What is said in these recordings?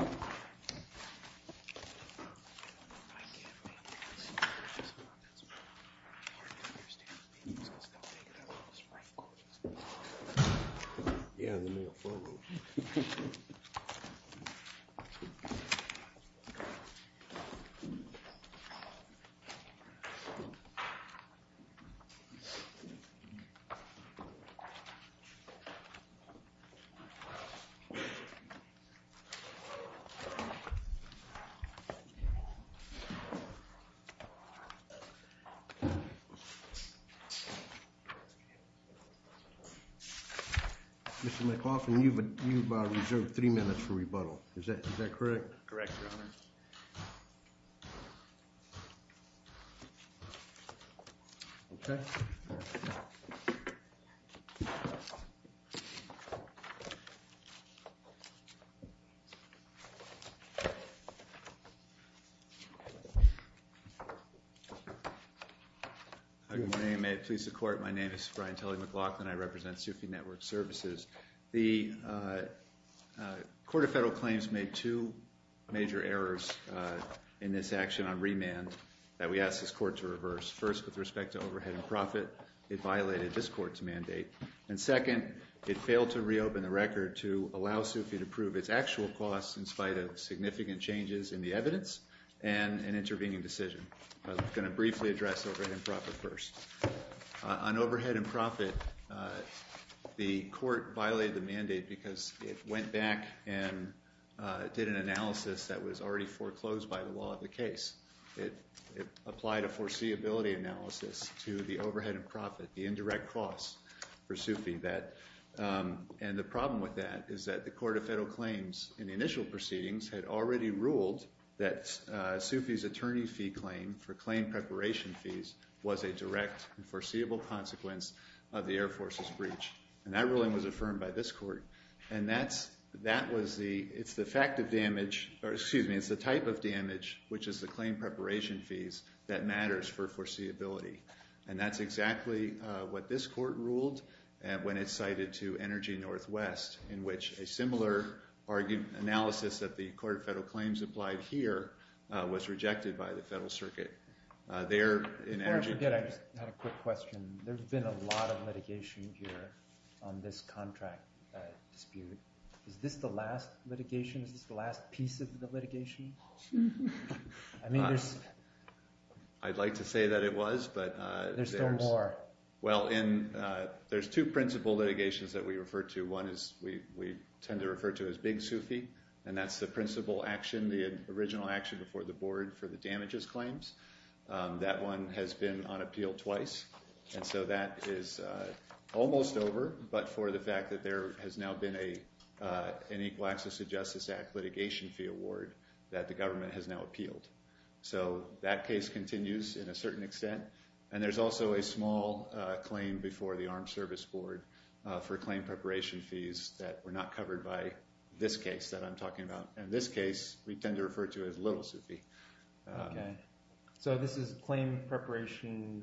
I can't make this. It's hard to understand because they'll take it out on the spring coaches. Yeah, they may have furrowed it. Mr. McLaughlin, you've reserved three minutes for rebuttal. Is that correct? Correct, Your Honor. Good morning. May it please the Court, my name is Brian Tully McLaughlin. I represent SUFI Network Services. The Court of Federal Claims made two major errors in this action on remand that we ask this Court to reverse. First, with respect to overhead and profit, it violated this Court's mandate. And second, it failed to reopen the record to allow SUFI to prove its actual costs in spite of significant changes in the evidence and an intervening decision. I'm going to briefly address overhead and profit first. On overhead and profit, the Court violated the mandate because it went back and did an analysis that was already foreclosed by the law of the case. It applied a foreseeability analysis to the overhead and profit, the indirect costs for SUFI. And the problem with that is that the Court of Federal Claims in the initial proceedings had already ruled that SUFI's attorney fee claim for claim preparation fees was a direct and foreseeable consequence of the Air Force's breach. And that ruling was affirmed by this Court. And it's the type of damage, which is the claim preparation fees, that matters for foreseeability. And that's exactly what this Court ruled when it cited to Energy Northwest, in which a similar analysis that the Court of Federal Claims applied here was rejected by the Federal Circuit. Before I forget, I just had a quick question. There's been a lot of litigation here on this contract dispute. Is this the last litigation? Is this the last piece of the litigation? I'd like to say that it was. There's still more. Well, there's two principal litigations that we refer to. One we tend to refer to as Big SUFI, and that's the principal action, the original action before the board for the damages claims. That one has been on appeal twice. And so that is almost over, but for the fact that there has now been an Equal Access to Justice Act litigation fee award that the government has now appealed. So that case continues in a certain extent. And there's also a small claim before the Armed Service Board for claim preparation fees that were not covered by this case that I'm talking about. And this case we tend to refer to as Little SUFI. Okay. So this is claim preparation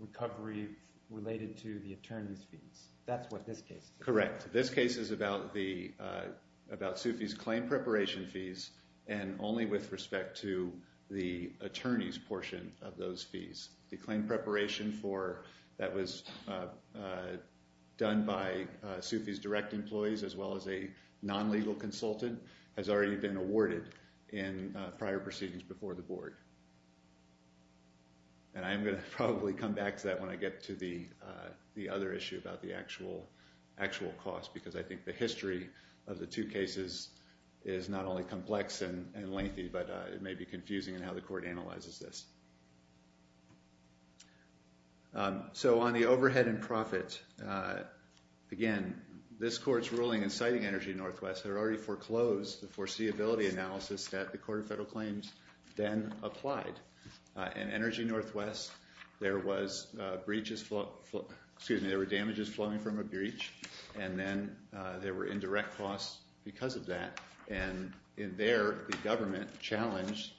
recovery related to the attorney's fees. That's what this case is. Correct. This case is about SUFI's claim preparation fees and only with respect to the attorney's portion of those fees. The claim preparation that was done by SUFI's direct employees as well as a non-legal consultant has already been awarded in prior proceedings before the board. And I'm going to probably come back to that when I get to the other issue about the actual cost because I think the history of the two cases is not only complex and lengthy, but it may be confusing in how the court analyzes this. So on the overhead and profit, again, this court's ruling inciting Energy Northwest had already foreclosed the foreseeability analysis that the Court of Federal Claims then applied. In Energy Northwest, there were damages flowing from a breach, and then there were indirect costs because of that. And in there, the government challenged,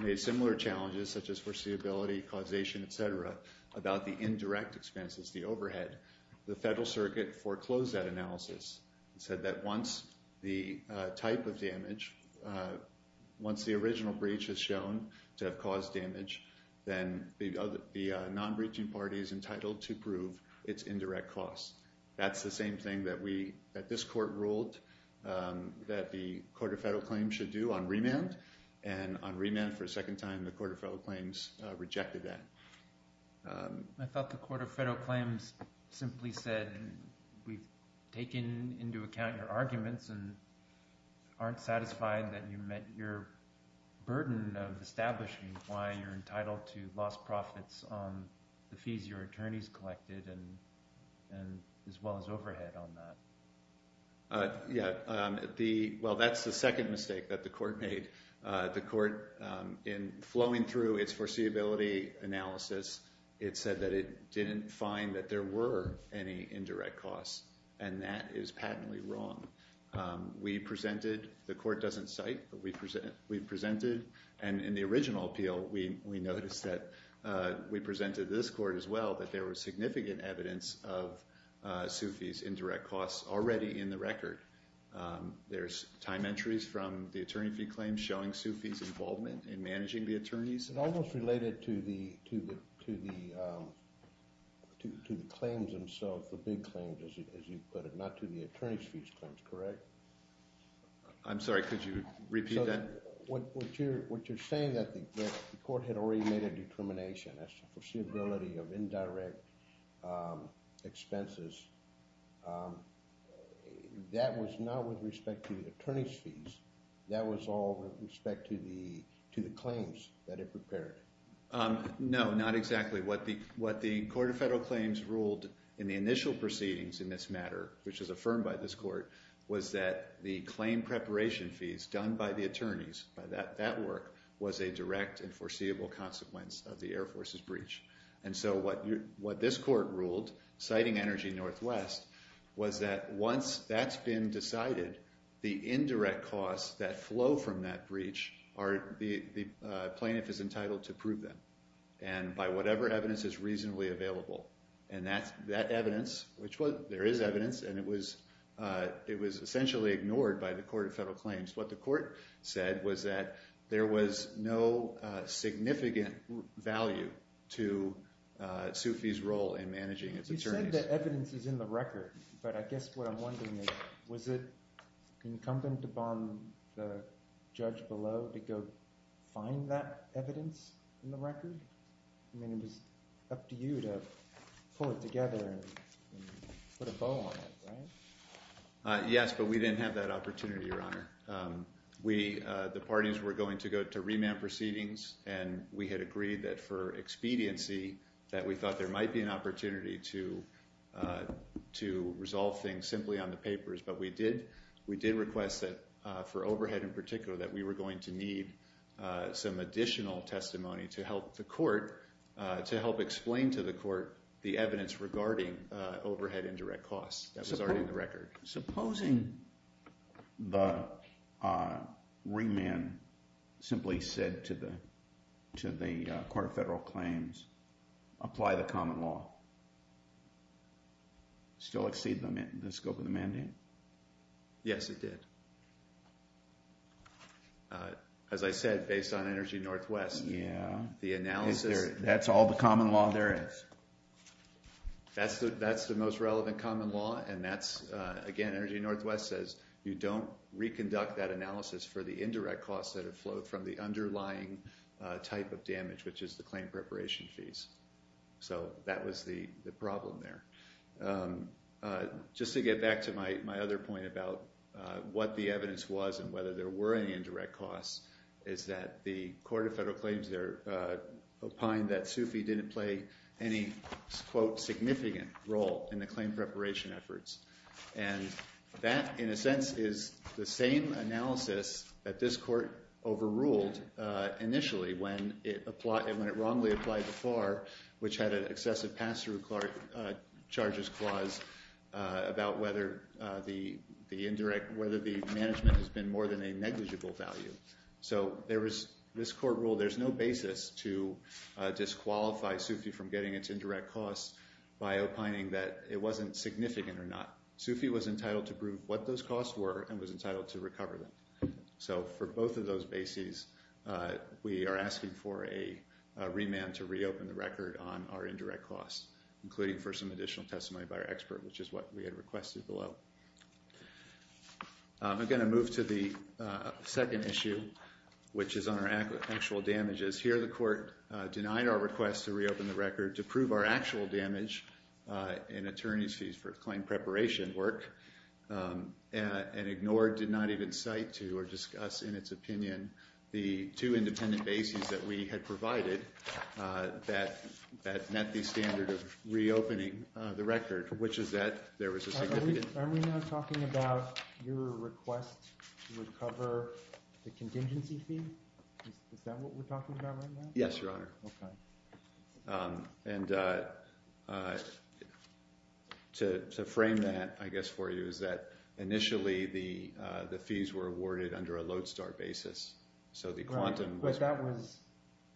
made similar challenges such as foreseeability, causation, et cetera, about the indirect expenses, the overhead. The Federal Circuit foreclosed that analysis and said that once the type of damage, once the original breach is shown to have caused damage, then the non-breaching party is entitled to prove its indirect costs. That's the same thing that this court ruled that the Court of Federal Claims should do on remand. And on remand for a second time, the Court of Federal Claims rejected that. I thought the Court of Federal Claims simply said we've taken into account your arguments and aren't satisfied that you met your burden of establishing why you're entitled to lost profits on the fees your attorneys collected as well as overhead on that. Yeah, well, that's the second mistake that the court made. The court, in flowing through its foreseeability analysis, it said that it didn't find that there were any indirect costs, and that is patently wrong. We presented, the court doesn't cite, but we presented, and in the original appeal, we noticed that we presented to this court as well that there was significant evidence of Sufi's indirect costs already in the record. There's time entries from the attorney fee claims showing Sufi's involvement in managing the attorneys. It almost related to the claims themselves, the big claims, as you put it, not to the attorney's fees claims, correct? I'm sorry, could you repeat that? What you're saying that the court had already made a determination as to foreseeability of indirect expenses, that was not with respect to the attorney's fees, that was all with respect to the claims that it prepared? No, not exactly. What the Court of Federal Claims ruled in the initial proceedings in this matter, which was affirmed by this court, was that the claim preparation fees done by the attorneys, by that work, was a direct and foreseeable consequence of the Air Force's breach. And so what this court ruled, citing Energy Northwest, was that once that's been decided, the indirect costs that flow from that breach, the plaintiff is entitled to prove them, and by whatever evidence is reasonably available. And that evidence, which there is evidence, and it was essentially ignored by the Court of Federal Claims. What the court said was that there was no significant value to Sue Fee's role in managing its attorneys. You said that evidence is in the record, but I guess what I'm wondering is, was it incumbent upon the judge below to go find that evidence in the record? I mean, it was up to you to pull it together and put a bow on it, right? Yes, but we didn't have that opportunity, Your Honor. The parties were going to go to remand proceedings, and we had agreed that for expediency, that we thought there might be an opportunity to resolve things simply on the papers. But we did request that for overhead in particular, that we were going to need some additional testimony to help the court, to help explain to the court the evidence regarding overhead indirect costs. That was already in the record. Supposing the remand simply said to the Court of Federal Claims, apply the common law, still exceed the scope of the mandate? Yes, it did. As I said, based on Energy Northwest, the analysis— Is there—that's all the common law there is? That's the most relevant common law, and that's, again, Energy Northwest says, you don't reconduct that analysis for the indirect costs that have flowed from the underlying type of damage, which is the claim preparation fees. So that was the problem there. Just to get back to my other point about what the evidence was and whether there were any indirect costs, is that the Court of Federal Claims there opined that SUFI didn't play any, quote, significant role in the claim preparation efforts. And that, in a sense, is the same analysis that this court overruled initially when it wrongly applied the FAR, which had an excessive pass-through charges clause, about whether the indirect—whether the management has been more than a negligible value. So there was—this court ruled there's no basis to disqualify SUFI from getting its indirect costs by opining that it wasn't significant or not. SUFI was entitled to prove what those costs were and was entitled to recover them. So for both of those bases, we are asking for a remand to reopen the record on our indirect costs, including for some additional testimony by our expert, which is what we had requested below. I'm going to move to the second issue, which is on our actual damages. Here the court denied our request to reopen the record to prove our actual damage in attorneys' fees for claim preparation work and ignored, did not even cite to, or discuss in its opinion, the two independent bases that we had provided that met the standard of reopening the record, which is that there was a significant— Are we now talking about your request to recover the contingency fee? Is that what we're talking about right now? Yes, Your Honor. Okay. And to frame that, I guess, for you is that initially the fees were awarded under a lodestar basis. So the quantum— But that was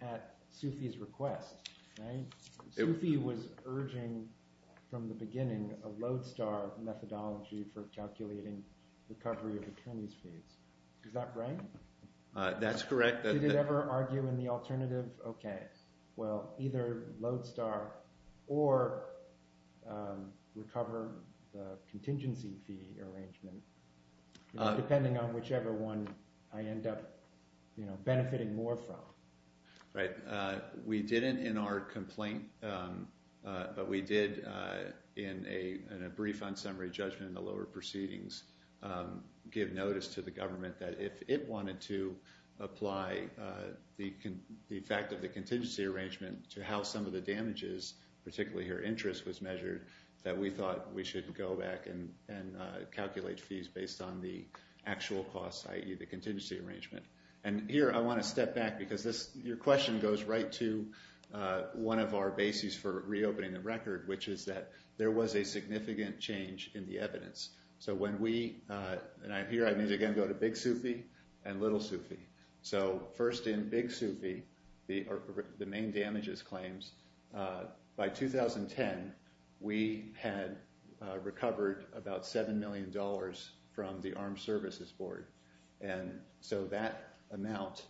at SUFI's request, right? SUFI was urging from the beginning a lodestar methodology for calculating recovery of attorneys' fees. Is that right? That's correct. Did it ever argue in the alternative? Okay. Well, either lodestar or recover the contingency fee arrangement, depending on whichever one I end up benefiting more from. Right. We didn't in our complaint, but we did in a brief unsummary judgment in the lower proceedings, give notice to the government that if it wanted to apply the fact of the contingency arrangement to how some of the damages, particularly her interest, was measured, that we thought we should go back and calculate fees based on the actual costs, i.e., the contingency arrangement. And here I want to step back because your question goes right to one of our bases for reopening the record, which is that there was a significant change in the evidence. So when we—and here I need to again go to Big SUFI and Little SUFI. So first in Big SUFI, the main damages claims, by 2010 we had recovered about $7 million from the Armed Services Board. And so that amount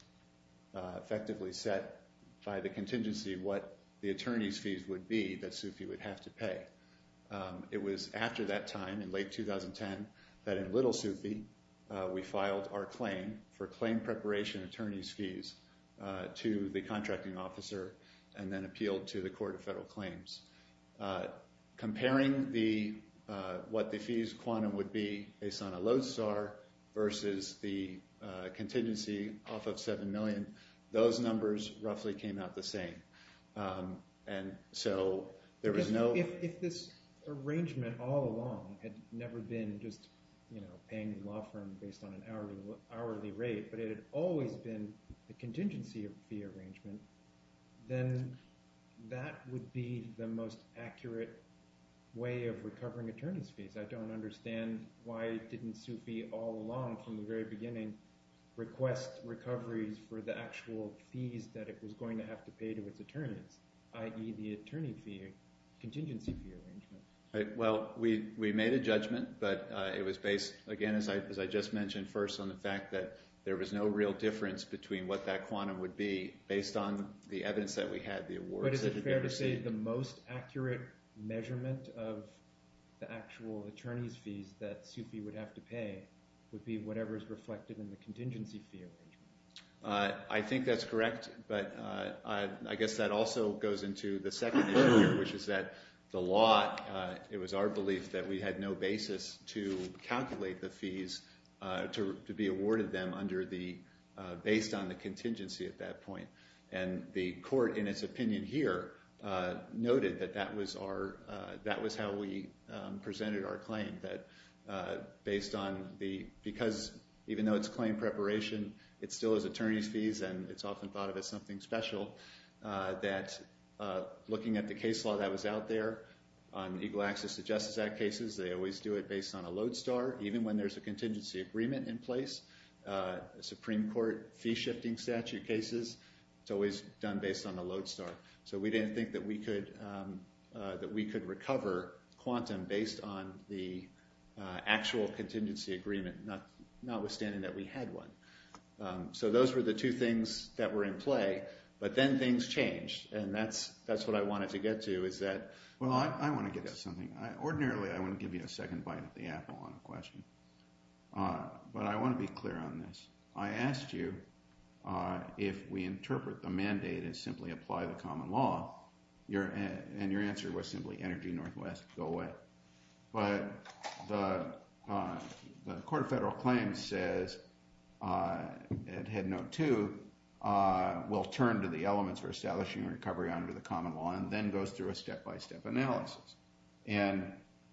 effectively set by the contingency what the attorneys' fees would be that SUFI would have to pay. It was after that time, in late 2010, that in Little SUFI we filed our claim for claim preparation attorney's fees to the contracting officer and then appealed to the Court of Federal Claims. Comparing what the fees quantum would be based on a load star versus the contingency off of $7 million, those numbers roughly came out the same. And so there was no— If this arrangement all along had never been just paying the law firm based on an hourly rate, but it had always been a contingency fee arrangement, then that would be the most accurate way of recovering attorney's fees. I don't understand why didn't SUFI all along from the very beginning request recoveries for the actual fees that it was going to have to pay to its attorneys, i.e., the attorney fee contingency fee arrangement. Well, we made a judgment, but it was based, again, as I just mentioned first, on the fact that there was no real difference between what that quantum would be based on the evidence that we had. But is it fair to say the most accurate measurement of the actual attorney's fees that SUFI would have to pay would be whatever is reflected in the contingency fee arrangement? I think that's correct, but I guess that also goes into the second issue, which is that the law— it was our belief that we had no basis to calculate the fees to be awarded them under the—based on the contingency at that point. And the court, in its opinion here, noted that that was our—that was how we presented our claim, that based on the—because even though it's claim preparation, it still is attorney's fees, and it's often thought of as something special, that looking at the case law that was out there on Eagle Access to Justice Act cases, they always do it based on a load star. Even when there's a contingency agreement in place, Supreme Court fee-shifting statute cases, it's always done based on a load star. So we didn't think that we could recover quantum based on the actual contingency agreement, notwithstanding that we had one. So those were the two things that were in play, but then things changed, and that's what I wanted to get to, is that— Well, I want to get to something. Ordinarily, I wouldn't give you a second bite of the apple on a question, but I want to be clear on this. I asked you if we interpret the mandate as simply apply the common law, and your answer was simply Energy Northwest, go away. But the Court of Federal Claims says, at Headnote 2, we'll turn to the elements for establishing recovery under the common law, and then goes through a step-by-step analysis. And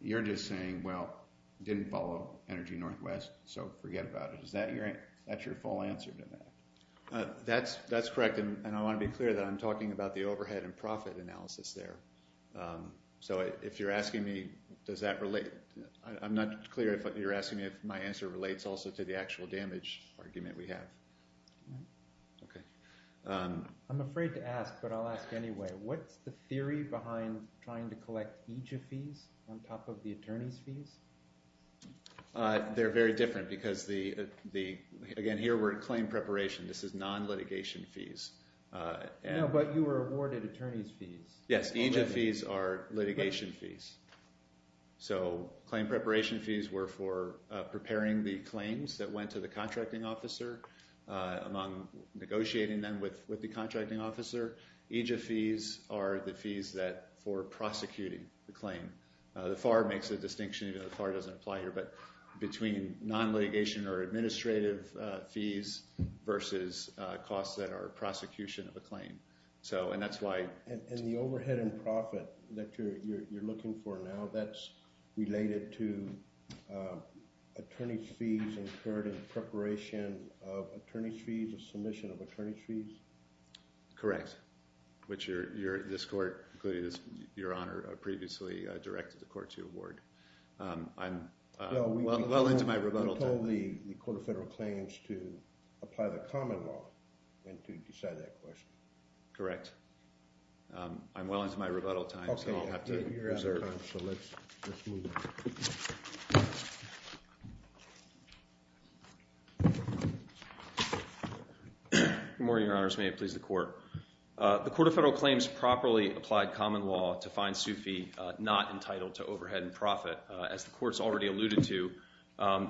you're just saying, well, didn't follow Energy Northwest, so forget about it. Is that your—that's your full answer to that? That's correct, and I want to be clear that I'm talking about the overhead and profit analysis there. So if you're asking me, does that relate—I'm not clear if you're asking me if my answer relates also to the actual damage argument we have. Okay. I'm afraid to ask, but I'll ask anyway. What's the theory behind trying to collect EJIA fees on top of the attorney's fees? They're very different because the—again, here we're in claim preparation. This is non-litigation fees. No, but you were awarded attorney's fees. Yes, EJIA fees are litigation fees. So claim preparation fees were for preparing the claims that went to the contracting officer among negotiating them with the contracting officer. EJIA fees are the fees that—for prosecuting the claim. The FAR makes a distinction, even though the FAR doesn't apply here, but between non-litigation or administrative fees versus costs that are prosecution of a claim. And that's why— And the overhead and profit that you're looking for now, that's related to attorney's fees incurred in preparation of attorney's fees, a submission of attorney's fees? Correct, which this court, including Your Honor, previously directed the court to award. I'm well into my rebuttal time. Well, we told the Court of Federal Claims to apply the common law and to decide that question. Correct. I'm well into my rebuttal time, so I'll have to reserve. Okay, you're out of time, so let's move on. Good morning, Your Honors. May it please the Court. The Court of Federal Claims properly applied common law to find Sufi not entitled to overhead and profit. As the Court's already alluded to,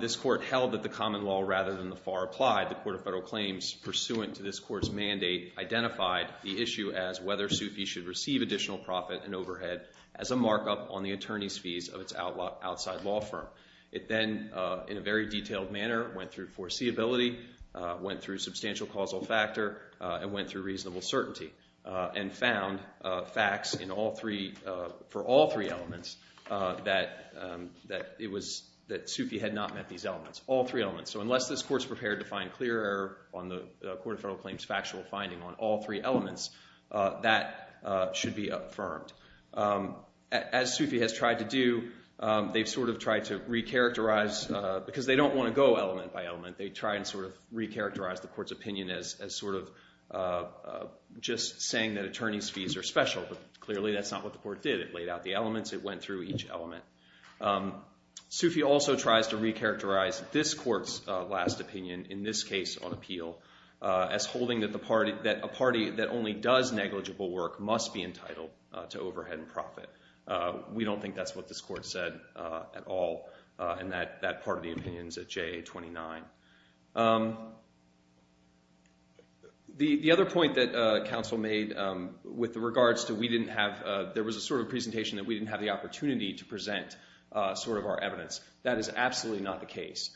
this Court held that the common law rather than the FAR applied. The Court of Federal Claims, pursuant to this Court's mandate, identified the issue as whether Sufi should receive additional profit and overhead as a markup on the attorney's fees of its outside law firm. It then, in a very detailed manner, went through foreseeability, went through substantial causal factor, and went through reasonable certainty, and found facts for all three elements that Sufi had not met these elements, all three elements. So unless this Court's prepared to find clear error on the Court of Federal Claims' factual finding on all three elements, that should be affirmed. As Sufi has tried to do, they've sort of tried to recharacterize, because they don't want to go element by element, they try and sort of recharacterize the Court's opinion as sort of just saying that attorney's fees are special, but clearly that's not what the Court did. It laid out the elements. It went through each element. Sufi also tries to recharacterize this Court's last opinion, in this case on appeal, as holding that a party that only does negligible work must be entitled to overhead and profit. We don't think that's what this Court said at all in that part of the opinions at JA-29. The other point that counsel made with regards to we didn't have – there was a sort of presentation that we didn't have the opportunity to present sort of our evidence. That is absolutely not the case.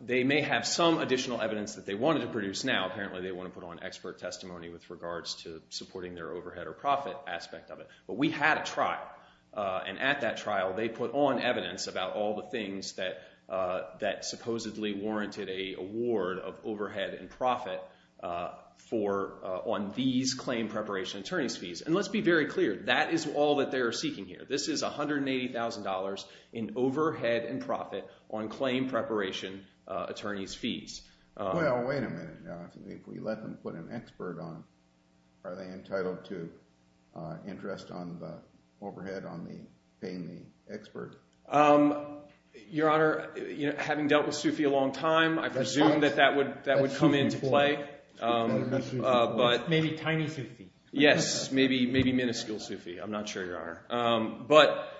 They may have some additional evidence that they wanted to produce now. Apparently, they want to put on expert testimony with regards to supporting their overhead or profit aspect of it. But we had a trial, and at that trial they put on evidence about all the things that supposedly warranted a award of overhead and profit on these claim preparation attorney's fees. And let's be very clear. That is all that they are seeking here. This is $180,000 in overhead and profit on claim preparation attorney's fees. Well, wait a minute now. If we let them put an expert on, are they entitled to interest on the overhead on the – paying the expert? Your Honor, having dealt with Sufi a long time, I presume that that would come into play. Maybe tiny Sufi. Yes, maybe minuscule Sufi. I'm not sure, Your Honor. But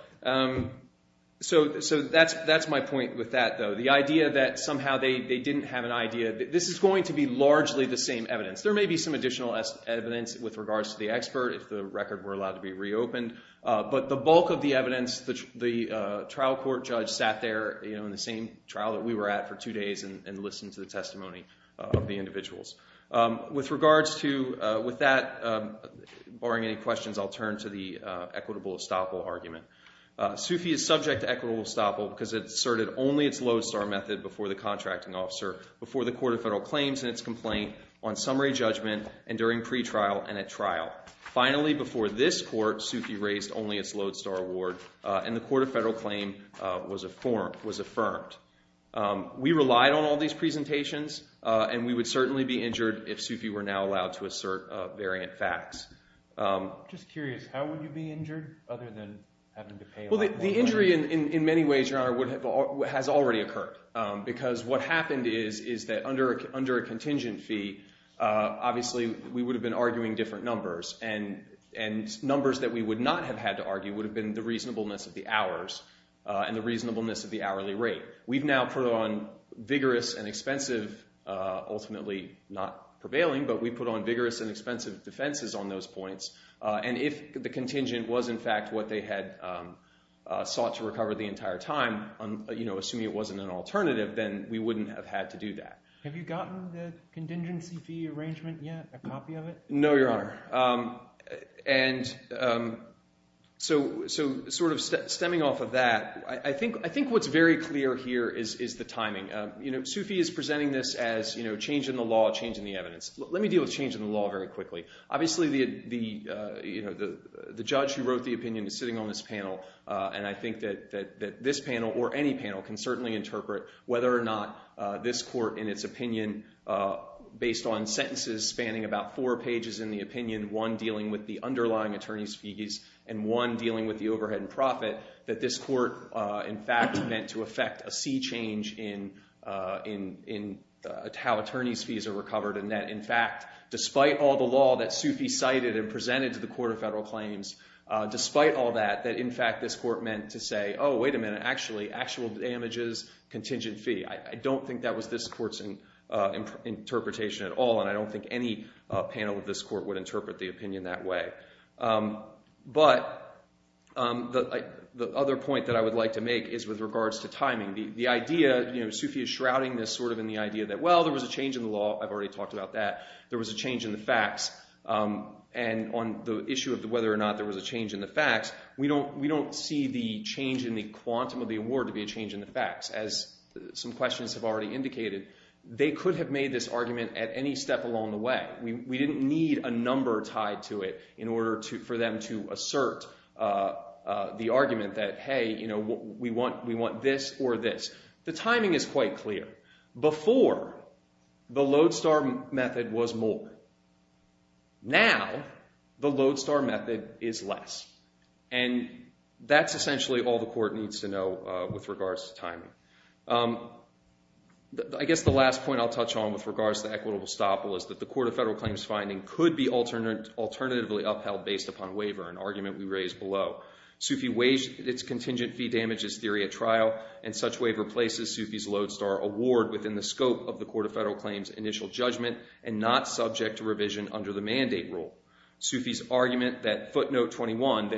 – so that's my point with that though. The idea that somehow they didn't have an idea – this is going to be largely the same evidence. There may be some additional evidence with regards to the expert if the record were allowed to be reopened. But the bulk of the evidence, the trial court judge sat there in the same trial that we were at for two days and listened to the testimony of the individuals. With regards to – with that, barring any questions, I'll turn to the equitable estoppel argument. Sufi is subject to equitable estoppel because it asserted only its lodestar method before the contracting officer, before the court of federal claims in its complaint, on summary judgment, and during pretrial and at trial. Finally, before this court, Sufi raised only its lodestar award, and the court of federal claim was affirmed. We relied on all these presentations, and we would certainly be injured if Sufi were now allowed to assert variant facts. I'm just curious. How would you be injured other than having to pay – Well, the injury in many ways, Your Honor, has already occurred because what happened is that under a contingent fee, obviously we would have been arguing different numbers, and numbers that we would not have had to argue would have been the reasonableness of the hours and the reasonableness of the hourly rate. We've now put on vigorous and expensive – ultimately not prevailing, but we put on vigorous and expensive defenses on those points. And if the contingent was, in fact, what they had sought to recover the entire time, assuming it wasn't an alternative, then we wouldn't have had to do that. Have you gotten the contingency fee arrangement yet, a copy of it? No, Your Honor. And so sort of stemming off of that, I think what's very clear here is the timing. Sufi is presenting this as change in the law, change in the evidence. Let me deal with change in the law very quickly. Obviously, the judge who wrote the opinion is sitting on this panel, and I think that this panel or any panel can certainly interpret whether or not this court, in its opinion, based on sentences spanning about four pages in the opinion, one dealing with the underlying attorney's fees and one dealing with the overhead and profit, that this court, in fact, meant to effect a sea change in how attorney's fees are recovered, and that, in fact, despite all the law that Sufi cited and presented to the Court of Federal Claims, despite all that, that, in fact, this court meant to say, oh, wait a minute, actually, actual damages, contingent fee. I don't think that was this court's interpretation at all, and I don't think any panel of this court would interpret the opinion that way. But the other point that I would like to make is with regards to timing. The idea, you know, Sufi is shrouding this sort of in the idea that, well, there was a change in the law. I've already talked about that. There was a change in the facts. And on the issue of whether or not there was a change in the facts, we don't see the change in the quantum of the award to be a change in the facts. As some questions have already indicated, they could have made this argument at any step along the way. We didn't need a number tied to it in order for them to assert the argument that, hey, we want this or this. The timing is quite clear. Before, the lodestar method was more. Now, the lodestar method is less. And that's essentially all the court needs to know with regards to timing. I guess the last point I'll touch on with regards to equitable estoppel is that the Court of Federal Claims' finding could be alternatively upheld based upon waiver, an argument we raised below. Sufi waived its contingent fee damages theory at trial, and such waiver places Sufi's lodestar award within the scope of the Court of Federal Claims' initial judgment and not subject to revision under the mandate rule. Sufi's argument that footnote 21,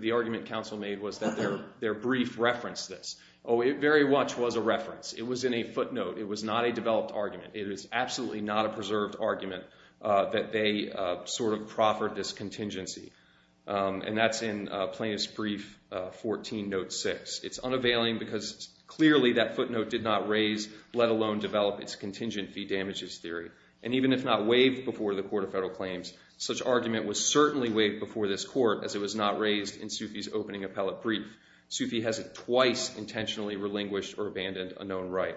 the argument counsel made was that their brief referenced this. Oh, it very much was a reference. It was in a footnote. It was not a developed argument. It is absolutely not a preserved argument that they sort of proffered this contingency. And that's in plaintiff's brief 14, note 6. It's unavailing because clearly that footnote did not raise, let alone develop, its contingent fee damages theory. And even if not waived before the Court of Federal Claims, such argument was certainly waived before this court as it was not raised in Sufi's opening appellate brief. Sufi hasn't twice intentionally relinquished or abandoned a known right.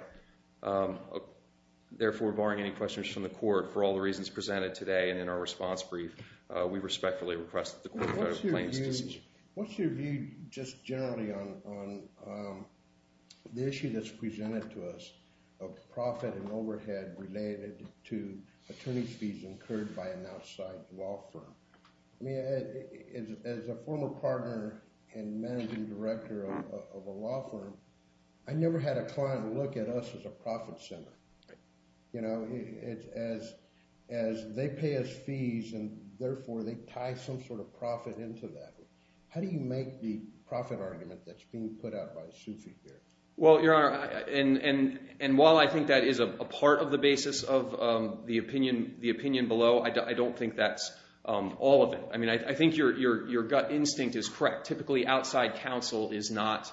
Therefore, barring any questions from the court, for all the reasons presented today and in our response brief, we respectfully request that the Court of Federal Claims dismiss it. What's your view just generally on the issue that's presented to us of profit and overhead related to attorney's fees incurred by an outside law firm? I mean, as a former partner and managing director of a law firm, I never had a client look at us as a profit center. You know, as they pay us fees and therefore they tie some sort of profit into that. How do you make the profit argument that's being put out by Sufi here? Well, Your Honor, and while I think that is a part of the basis of the opinion below, I don't think that's all of it. I mean, I think your gut instinct is correct. Typically, outside counsel is not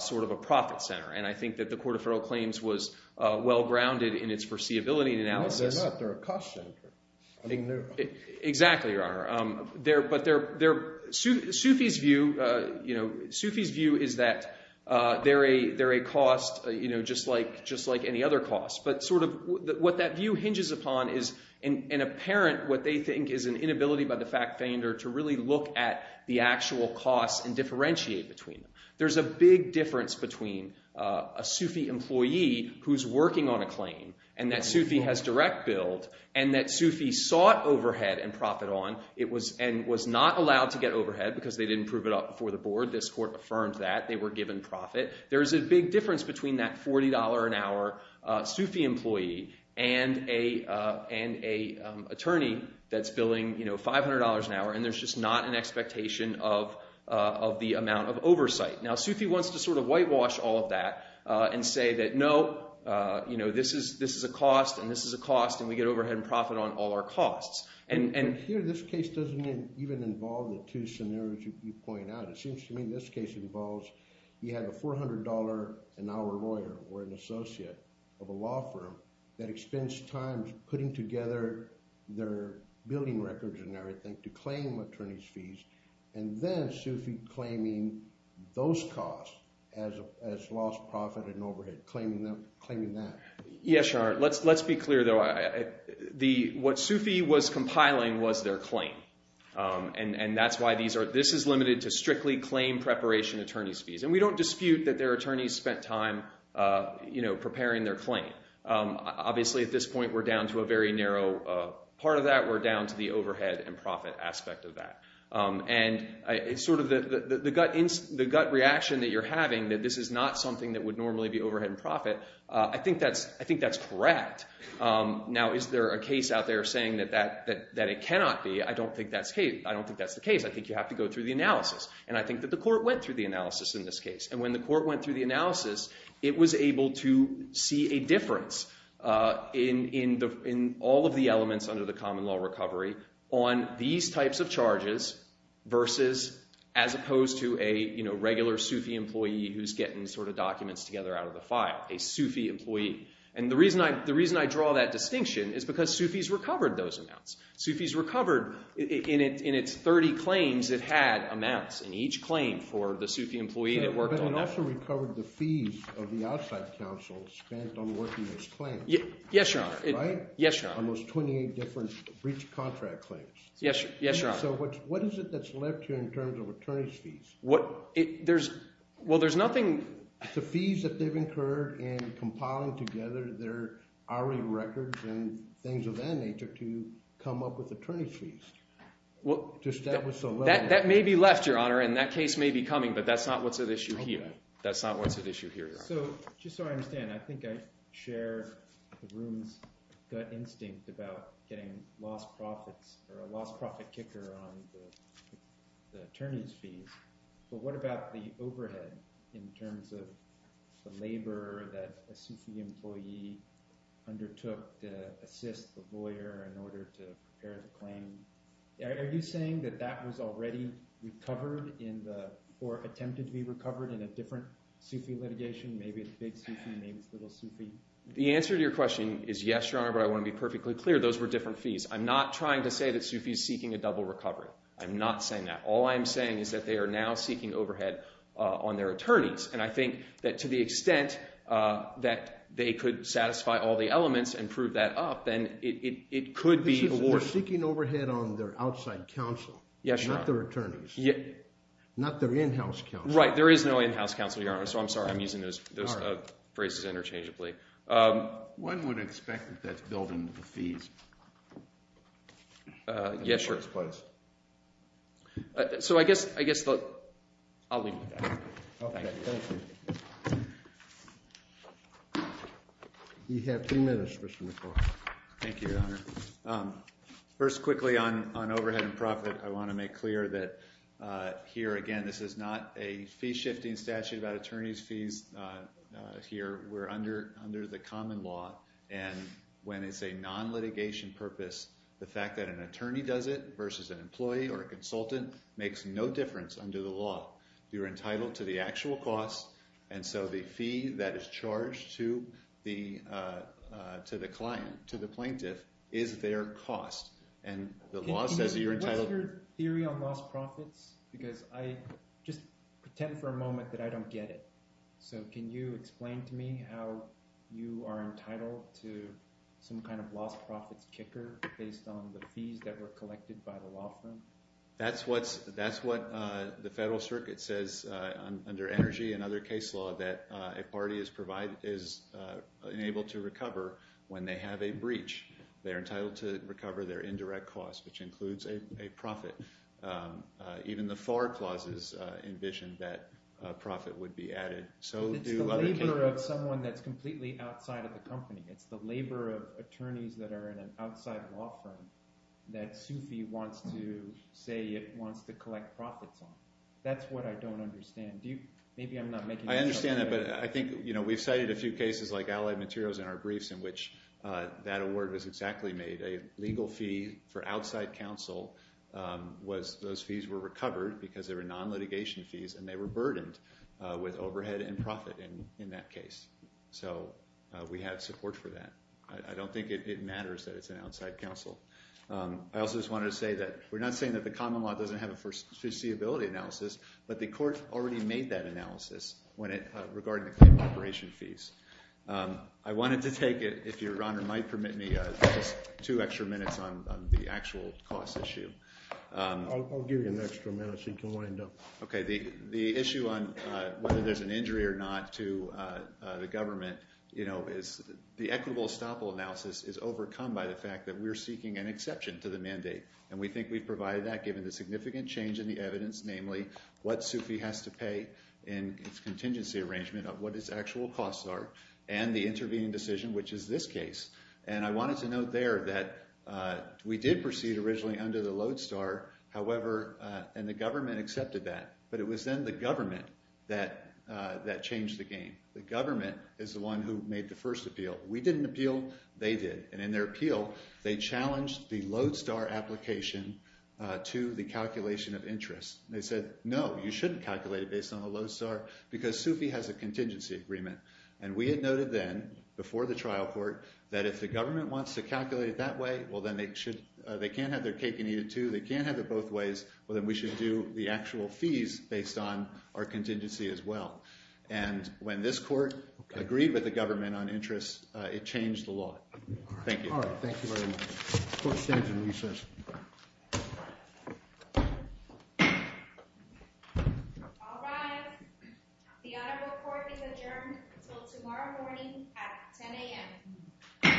sort of a profit center. And I think that the Court of Federal Claims was well-grounded in its foreseeability analysis. No, they're not. They're a cost center. Exactly, Your Honor. But Sufi's view is that they're a cost just like any other cost. But sort of what that view hinges upon is an apparent what they think is an inability by the fact defender to really look at the actual cost and differentiate between them. There's a big difference between a Sufi employee who's working on a claim and that Sufi has direct billed and that Sufi sought overhead and profit on and was not allowed to get overhead because they didn't prove it up before the board. This court affirmed that. They were given profit. There's a big difference between that $40 an hour Sufi employee and an attorney that's billing $500 an hour. And there's just not an expectation of the amount of oversight. Now, Sufi wants to sort of whitewash all of that and say that, no, this is a cost and this is a cost and we get overhead and profit on all our costs. And here this case doesn't even involve the two scenarios you point out. It seems to me this case involves you have a $400 an hour lawyer or an associate of a law firm that expends time putting together their billing records and everything to claim attorney's fees and then Sufi claiming those costs as lost profit and overhead, claiming that. Yes, Your Honor. Let's be clear, though. What Sufi was compiling was their claim. And that's why this is limited to strictly claim preparation attorney's fees. And we don't dispute that their attorneys spent time preparing their claim. Obviously, at this point, we're down to a very narrow part of that. We're down to the overhead and profit aspect of that. And sort of the gut reaction that you're having that this is not something that would normally be overhead and profit, I think that's correct. Now, is there a case out there saying that it cannot be? I don't think that's the case. I think you have to go through the analysis. And I think that the court went through the analysis in this case. And when the court went through the analysis, it was able to see a difference in all of the elements under the common law recovery on these types of charges versus as opposed to a regular Sufi employee who's getting sort of documents together out of the file, a Sufi employee. And the reason I draw that distinction is because Sufi's recovered those amounts. Sufi's recovered – in its 30 claims, it had amounts in each claim for the Sufi employee that worked on that. But it also recovered the fees of the outside counsel spent on working those claims. Yes, Your Honor. Right? Yes, Your Honor. On those 28 different breach contract claims. Yes, Your Honor. So what is it that's left here in terms of attorney's fees? Well, there's nothing – The fees that they've incurred in compiling together their hourly records and things of that nature to come up with attorney's fees. Well, that may be left, Your Honor, and that case may be coming, but that's not what's at issue here. That's not what's at issue here, Your Honor. So just so I understand, I think I share the room's gut instinct about getting lost profits or a lost profit kicker on the attorney's fees. But what about the overhead in terms of the labor that a Sufi employee undertook to assist the lawyer in order to prepare the claim? Are you saying that that was already recovered in the – or attempted to be recovered in a different Sufi litigation, maybe a big Sufi named Little Sufi? The answer to your question is yes, Your Honor, but I want to be perfectly clear. Those were different fees. I'm not trying to say that Sufi's seeking a double recovery. I'm not saying that. All I'm saying is that they are now seeking overhead on their attorneys, and I think that to the extent that they could satisfy all the elements and prove that up, then it could be awarded. They're seeking overhead on their outside counsel. Yes, Your Honor. Not their attorneys. Not their in-house counsel. Right. There is no in-house counsel, Your Honor, so I'm sorry I'm using those phrases interchangeably. One would expect that that's built into the fees. Yes, Your Honor. So I guess I'll leave it at that. Okay, thank you. You have three minutes, Mr. McLaughlin. Thank you, Your Honor. First, quickly, on overhead and profit, I want to make clear that here, again, this is not a fee-shifting statute about attorney's fees here. We're under the common law, and when it's a non-litigation purpose, the fact that an attorney does it versus an employee or a consultant makes no difference under the law. You're entitled to the actual cost, and so the fee that is charged to the client, to the plaintiff, is their cost. And the law says that you're entitled— What's your theory on lost profits? Because I just pretend for a moment that I don't get it. So can you explain to me how you are entitled to some kind of lost profits kicker based on the fees that were collected by the law firm? That's what the federal circuit says under energy and other case law that a party is enabled to recover when they have a breach. They're entitled to recover their indirect cost, which includes a profit. Even the FAR clauses envision that a profit would be added. It's the labor of someone that's completely outside of the company. It's the labor of attorneys that are in an outside law firm that SUFI wants to say it wants to collect profits on. That's what I don't understand. Maybe I'm not making— I understand that, but I think we've cited a few cases like Allied Materials in our briefs in which that award was exactly made. A legal fee for outside counsel was—those fees were recovered because they were non-litigation fees, and they were burdened with overhead and profit in that case. So we have support for that. I don't think it matters that it's an outside counsel. I also just wanted to say that we're not saying that the common law doesn't have a foreseeability analysis, but the court already made that analysis when it—regarding the claim operation fees. I wanted to take, if Your Honor might permit me, just two extra minutes on the actual cost issue. I'll give you an extra minute so you can wind up. Okay. The issue on whether there's an injury or not to the government is the equitable estoppel analysis is overcome by the fact that we're seeking an exception to the mandate, and we think we've provided that given the significant change in the evidence, namely what SUFI has to pay in its contingency arrangement of what its actual costs are and the intervening decision, which is this case. And I wanted to note there that we did proceed originally under the Lodestar, however—and the government accepted that, but it was then the government that changed the game. The government is the one who made the first appeal. We didn't appeal. They did. And in their appeal, they challenged the Lodestar application to the calculation of interest. They said, no, you shouldn't calculate it based on the Lodestar because SUFI has a contingency agreement. And we had noted then before the trial court that if the government wants to calculate it that way, well, then they can't have their cake and eat it too. They can't have it both ways. Well, then we should do the actual fees based on our contingency as well. And when this court agreed with the government on interest, it changed the law. Thank you. All right. Thank you very much. Court stands in recess. All rise. The honorable court is adjourned until tomorrow morning at 10 a.m.